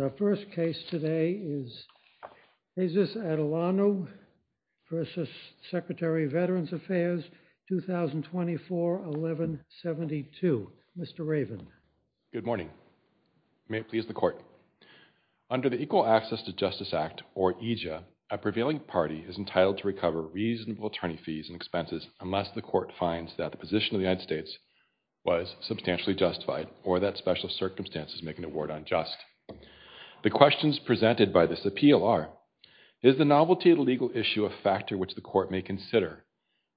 Our first case today is Jesus Atilano v. Secretary of Veterans Affairs, 2024-11-72. Mr. Raven. Good morning. May it please the Court. Under the Equal Access to Justice Act, or EJA, a prevailing party is entitled to recover reasonable attorney fees and expenses unless the Court finds that the position of the United States was substantially justified or that special circumstances make an award unjust. The questions presented by this appeal are, is the novelty of the legal issue a factor which the Court may consider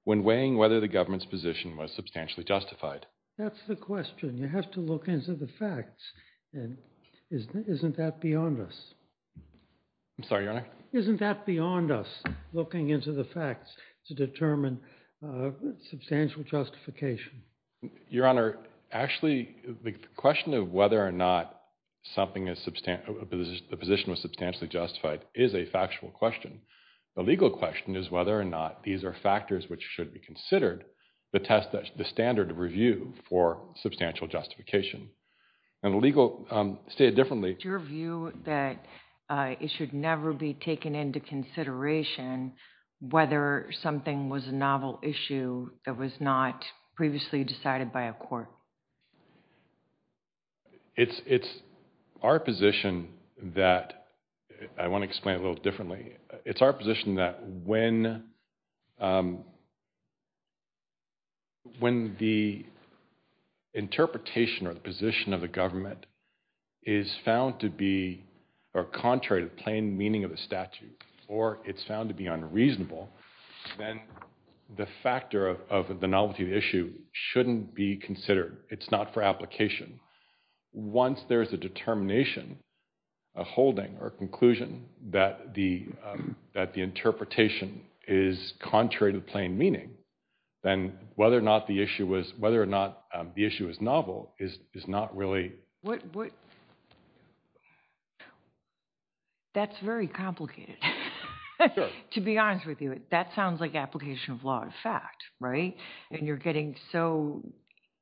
when weighing whether the government's position was substantially justified? That's the question. You have to look into the facts. And isn't that beyond us? I'm sorry, Your Honor? Isn't that beyond us, looking into the facts to determine substantial justification? Your Honor, actually, the question of whether or not the position was substantially justified is a factual question. The legal question is whether or not these are factors which should be considered to test the standard of review for substantial justification. And the legal, stated differently, It's your view that it should never be taken into consideration whether something was a novel issue that was not previously decided by a court. It's our position that, I want to explain a little differently, it's our position that when the interpretation or the position of the government is found to be, or contrary to meaning of the statute, or it's found to be unreasonable, then the factor of the novelty of the issue shouldn't be considered. It's not for application. Once there's a determination, a holding, or conclusion that the interpretation is contrary to plain meaning, then whether or not the issue was novel is not really... What? That's very complicated. To be honest with you, that sounds like application of law of fact, right? And you're getting so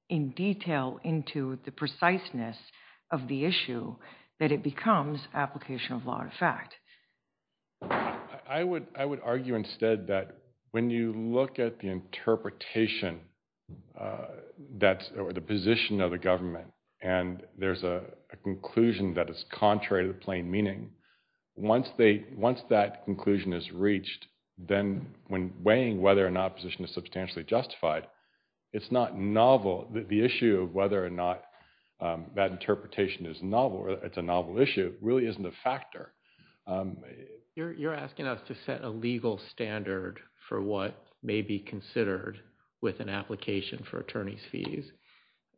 in detail into the preciseness of the issue that it becomes application of law of fact. I would argue instead that when you look at the interpretation or the position of the government, and there's a conclusion that is contrary to plain meaning, once that conclusion is reached, then when weighing whether or not position is substantially justified, it's not novel. The issue of whether or not that interpretation is novel, or it's a novel issue, really isn't a factor. You're asking us to set a legal standard for what may be considered with an application for attorney's fees.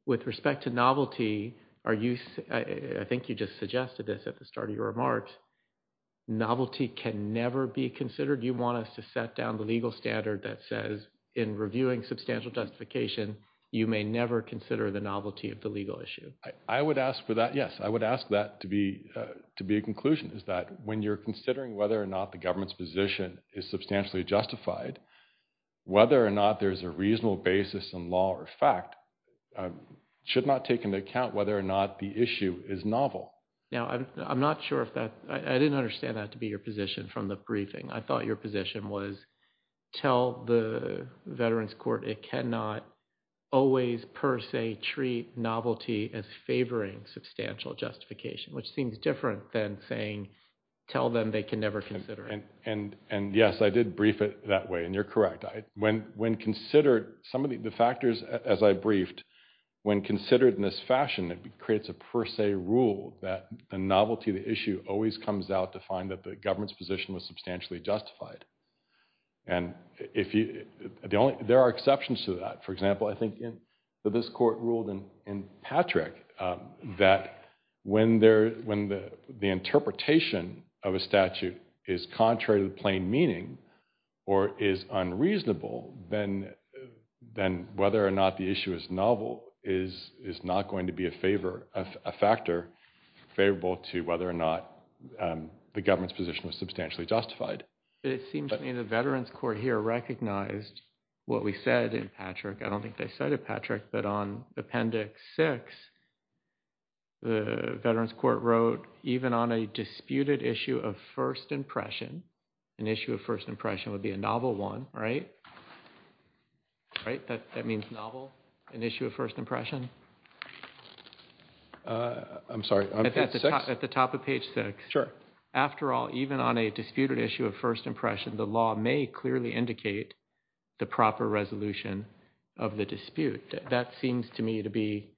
With respect to novelty, I think you just suggested this at the start of your remarks, novelty can never be considered. You want us to set down the legal standard that says in reviewing substantial justification, you may never consider the novelty of the legal issue. I would ask for that, yes. I would ask that to be a conclusion, is that when you're considering whether or not the government's position is substantially justified, whether or not there's a reasonable basis in law or fact should not take into account whether or not the issue is novel. Now I'm not sure if that, I didn't understand that to be your position from the briefing. I thought your position was tell the veterans court it cannot always per se treat novelty as favoring substantial justification, which seems different than saying tell them they can never consider it. And yes, I did brief it that way, and you're correct. When considered, some of the factors as I briefed, when considered in this fashion, it creates a per se rule that the novelty of the issue always comes out to find that the government's position was substantially justified. And if you, the only, there are exceptions to that. For example, I think in this court ruled in Patrick that when the interpretation of a statute is contrary to the plain meaning, or is unreasonable, then whether or not the issue is novel is not going to be a favor, a factor favorable to whether or not the government's position was substantially justified. It seems to me the veterans court here recognized what we said in Patrick. I don't think I cited Patrick, but on appendix six, the veterans court wrote even on a disputed issue of first impression, an issue of first impression would be a novel one, right? Right? That means novel, an issue of first impression. I'm sorry. At the top of page six. Sure. After all, even on a disputed issue of first impression, the law may clearly indicate the proper resolution of the dispute. That seems to me to be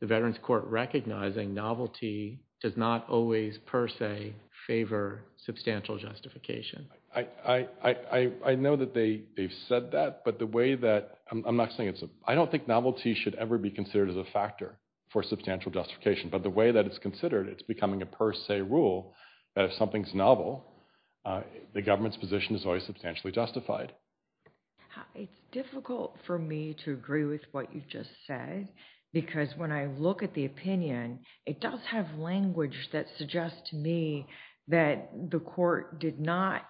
the veterans court recognizing novelty does not always per se favor substantial justification. I know that they've said that, but the way that I'm not saying it's, I don't think novelty should ever be considered as a factor for substantial justification, but the way that it's considered, it's becoming a per se rule that if something's novel, the government's position is always substantially justified. It's difficult for me to agree with what you just said, because when I look at the opinion, it does have language that suggests to me that the court did not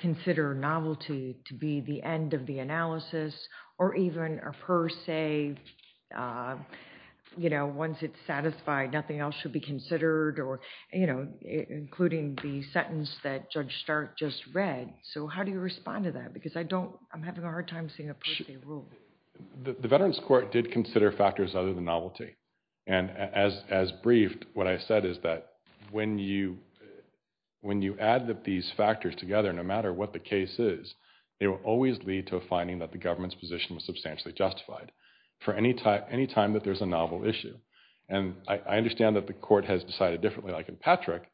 consider novelty to be the end of the analysis or even a per se, you know, once it's satisfied, nothing else should be considered or, you know, including the sentence that Judge Start just read. So how do you respond to that? Because I don't, I'm having a hard time seeing a per se rule. The veterans court did consider factors other than novelty. And as briefed, what I said is that when you add these factors together, no matter what the case is, it will always lead to a finding that the government's position was substantially justified for any time that there's a novel issue. And I understand that the court has decided differently, like in Patrick,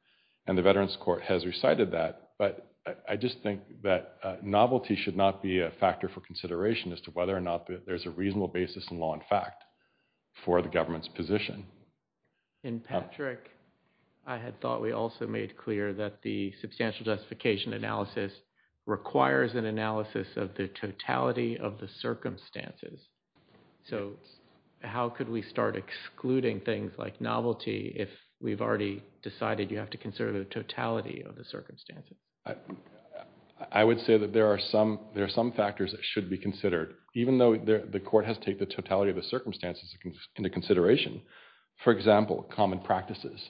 and the veterans court has recited that, but I just think that novelty should not be a factor for consideration as to whether or not there's a for the government's position. In Patrick, I had thought we also made clear that the substantial justification analysis requires an analysis of the totality of the circumstances. So how could we start excluding things like novelty if we've already decided you have to consider the totality of the circumstances? I would say that there are some factors that even though the court has taken the totality of the circumstances into consideration, for example, common practices.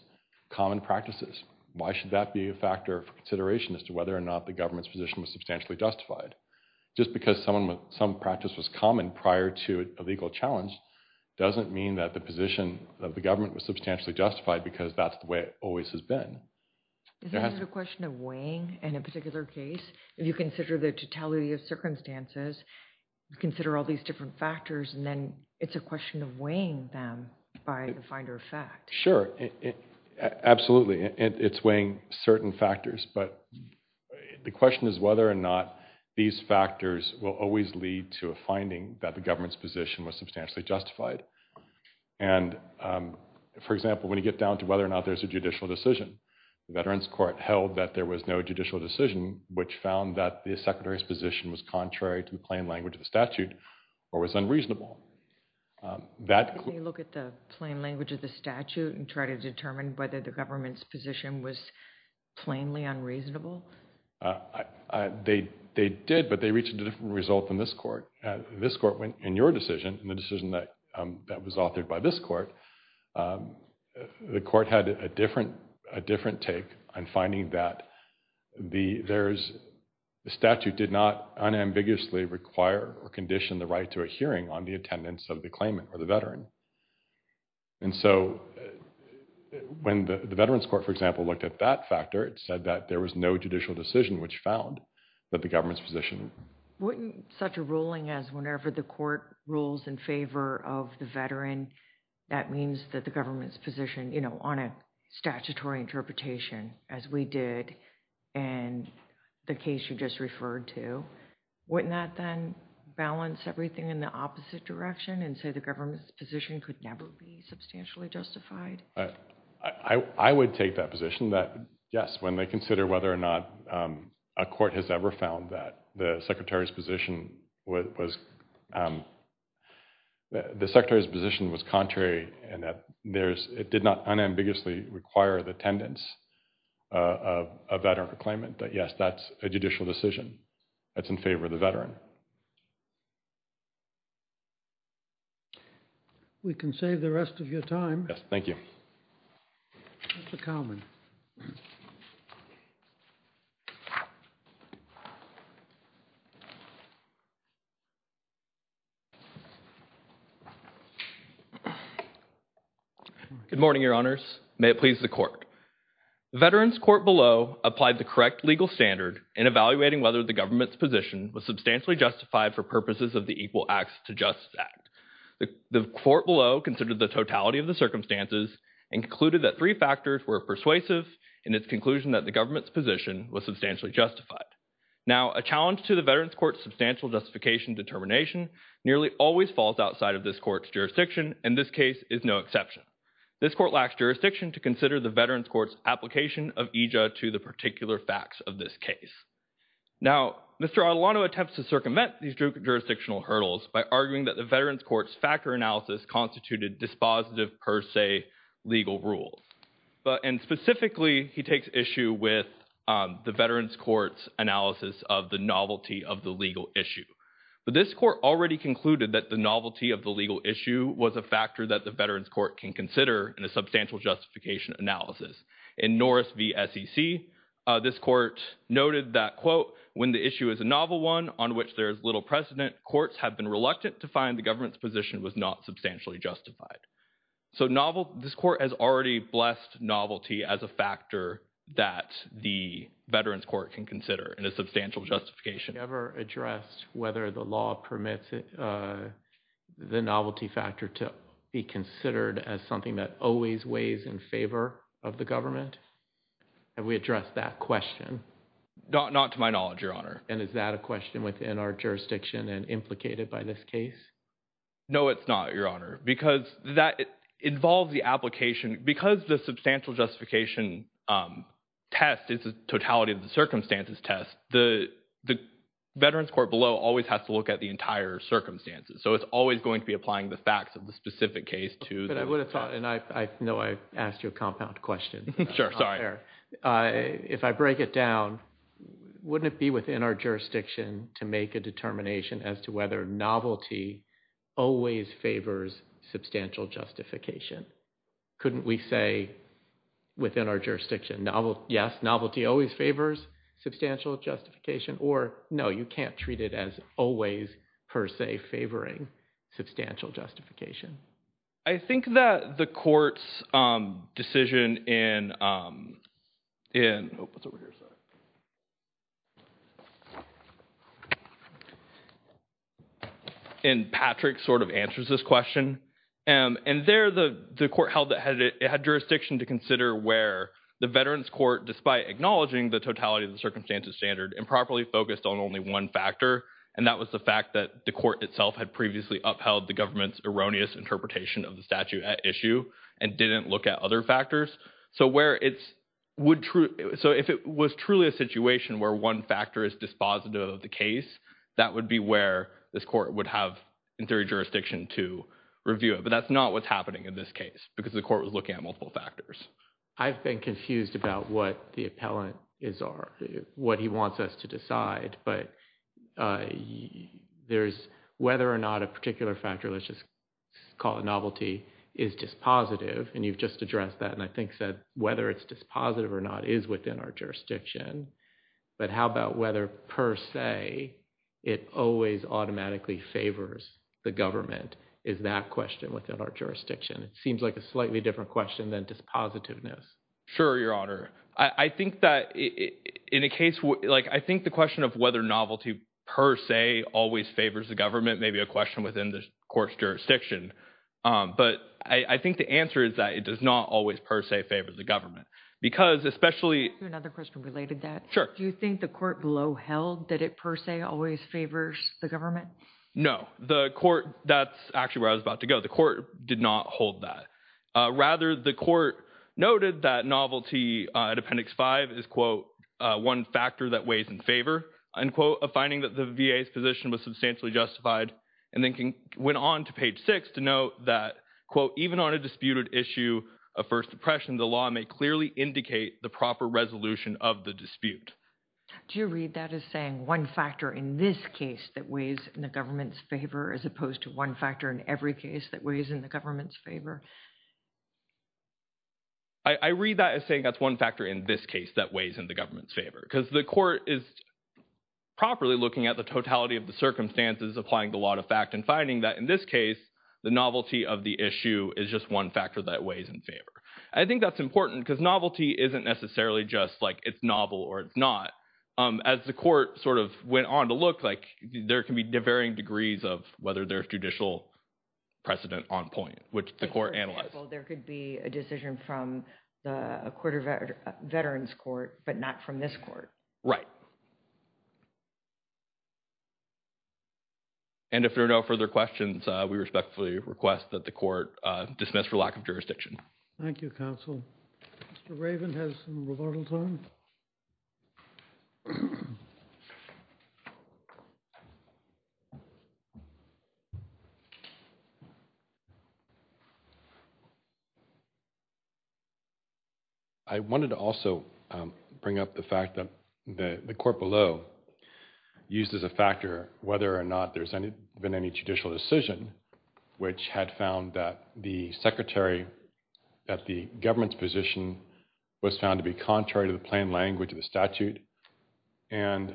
Common practices. Why should that be a factor for consideration as to whether or not the government's position was substantially justified? Just because some practice was common prior to a legal challenge doesn't mean that the position of the government was substantially justified because that's the way it always has been. Is that a question of weighing in a particular case? If you consider the totality of circumstances, you consider all these different factors, and then it's a question of weighing them by the finder of fact. Sure, absolutely. It's weighing certain factors, but the question is whether or not these factors will always lead to a finding that the government's position was substantially justified. And for example, when you get down to whether or not there's a judicial decision, the Veterans Court held that there was no judicial decision, which found that the Secretary's position was contrary to the plain language of the statute or was unreasonable. Can you look at the plain language of the statute and try to determine whether the government's position was plainly unreasonable? They did, but they reached a different result than this court. This court, in your decision, in the decision that was authored by this court, the court had a different take on finding that the statute did not unambiguously require or condition the right to a hearing on the attendance of the claimant or the veteran. And so when the Veterans Court, for example, looked at that factor, it said that there was no judicial decision which found that the government's position... Wouldn't such a ruling as whenever the court rules in favor of the veteran, that means that the government's position, you know, on a statutory interpretation as we did in the case you just referred to, wouldn't that then balance everything in the opposite direction and say the government's position could never be substantially justified? I would take that position that yes, when they whether or not a court has ever found that the secretary's position was contrary and that there's... It did not unambiguously require the attendance of a veteran claimant, that yes, that's a judicial decision that's in favor of the veteran. We can save the rest of your time. Yes, thank you. Mr. Kalman. Good morning, your honors. May it please the court. The Veterans Court below applied the correct legal standard in evaluating whether the government's position was substantially justified for purposes of the Equal Acts to Justice Act. The court below considered the totality of the and concluded that three factors were persuasive in its conclusion that the government's position was substantially justified. Now, a challenge to the Veterans Court's substantial justification determination nearly always falls outside of this court's jurisdiction and this case is no exception. This court lacks jurisdiction to consider the Veterans Court's application of EJA to the particular facts of this case. Now, Mr. Arlotto attempts to circumvent these jurisdictional hurdles by arguing that the Veterans Court's factor analysis constituted dispositive per se legal rules. And specifically, he takes issue with the Veterans Court's analysis of the novelty of the legal issue. But this court already concluded that the novelty of the legal issue was a factor that the Veterans Court can consider in a substantial justification analysis. In Norris v. SEC, this court noted that, quote, when the issue is a novel one on which there is little precedent, courts have been reluctant to find the government's position was not substantially justified. So, this court has already blessed novelty as a factor that the Veterans Court can consider in a substantial justification. Have you ever addressed whether the law permits the novelty factor to be considered as something that always weighs in favor of the government? Have we addressed that question? Not to my knowledge, Your Honor. And is that a question within our jurisdiction and implicated by this case? No, it's not, Your Honor, because that involves the application. Because the substantial justification test is a totality of the circumstances test, the Veterans Court below always has to look at the entire circumstances. So, it's always going to be applying the facts of the specific case to the... But I would have thought, and I know I asked you a compound question. Sure, sorry. If I break it down, wouldn't it be within our jurisdiction to make a determination as to whether novelty always favors substantial justification? Couldn't we say within our jurisdiction, yes, novelty always favors substantial justification, or no, you can't treat it as always per se favoring substantial justification? I think that the court's decision in... Patrick sort of answers this question. And there, the court held that it had jurisdiction to consider where the Veterans Court, despite acknowledging the totality of the circumstances standard, improperly focused on only one factor, and that was the fact that the court itself had previously upheld the government's erroneous interpretation of the statute at issue and didn't look at other factors. So, if it was truly a situation where one factor is dispositive of the case, that would be where this court would have, in theory, jurisdiction to review it. But that's not what's happening in this case because the court was looking at multiple factors. I've been confused about what the appellant is or what he wants us to decide, but there's whether or not a particular factor called novelty is dispositive, and you've just addressed that, and I think said whether it's dispositive or not is within our jurisdiction. But how about whether per se it always automatically favors the government is that question within our jurisdiction? It seems like a slightly different question than dispositiveness. Sure, Your Honor. I think that in a case... I think the question of whether novelty per se always favors the government may be a question within the court's jurisdiction, but I think the answer is that it does not always per se favor the government because especially... Can I ask you another question related to that? Sure. Do you think the court below held that it per se always favors the government? No. The court... That's actually where I was about to go. The court did not hold that. Rather, the court noted that novelty at Appendix 5 is, quote, one factor that weighs in favor, unquote, of finding that the VA's position was substantially justified, and then went on to page 6 to note that, quote, even on a disputed issue of First Depression, the law may clearly indicate the proper resolution of the dispute. Do you read that as saying one factor in this case that weighs in the government's favor as opposed to one factor in every case that weighs in the government's favor? I read that as saying that's one factor in this case that weighs in the government's favor because the court is properly looking at the totality of the circumstances applying the law to fact and finding that in this case, the novelty of the issue is just one factor that weighs in favor. I think that's important because novelty isn't necessarily just like it's novel or it's not. As the court sort of went on to look like, there can be varying degrees of whether there's judicial precedent on point, which the court analyzed. For example, there could be a decision from the Veterans Court, but not from this court. Right. And if there are no further questions, we respectfully request that the court dismiss for lack of jurisdiction. Thank you, counsel. Mr. Raven has some rebuttals on. I wanted to also bring up the fact that the court below used as a factor whether or not there's been any judicial decision which had found that the secretary at the government's position was found to be contrary to the plain language of the statute and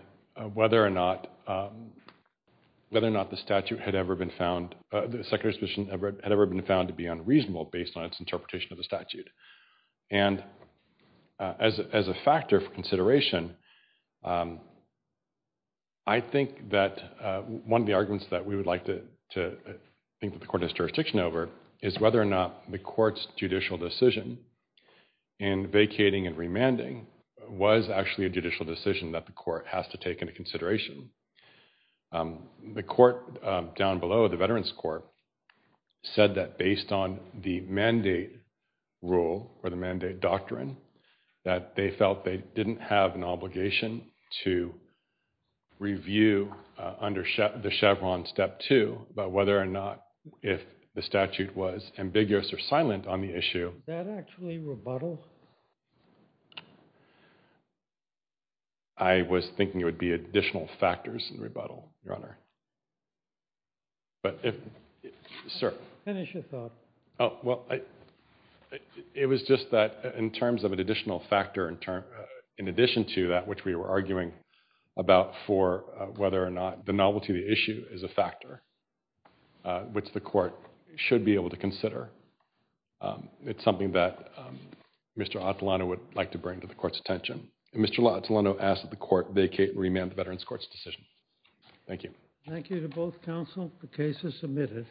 whether or not the statute had ever been found, the secretary's position had ever been found to be unreasonable based on its statute. And as a factor for consideration, I think that one of the arguments that we would like to think that the court has jurisdiction over is whether or not the court's judicial decision in vacating and remanding was actually a judicial decision that the court has to take into consideration. The court down below, the Veterans Court, said that based on the mandate rule or the mandate doctrine, that they felt they didn't have an obligation to review under the Chevron Step 2 about whether or not if the statute was ambiguous or silent on the issue. That actually rebuttal? I was thinking it would be additional factors in rebuttal, Your Honor. Finish your thought. Oh, well, it was just that in terms of an additional factor in addition to that which we were arguing about for whether or not the novelty of the issue is a factor which the court should be able to consider. It's something that Mr. Atalano would like to bring to the court's attention. Mr. Atalano asked that the court vacate and remand the Veterans Court's decision. Thank you. Thank you to both counsel. The case is submitted.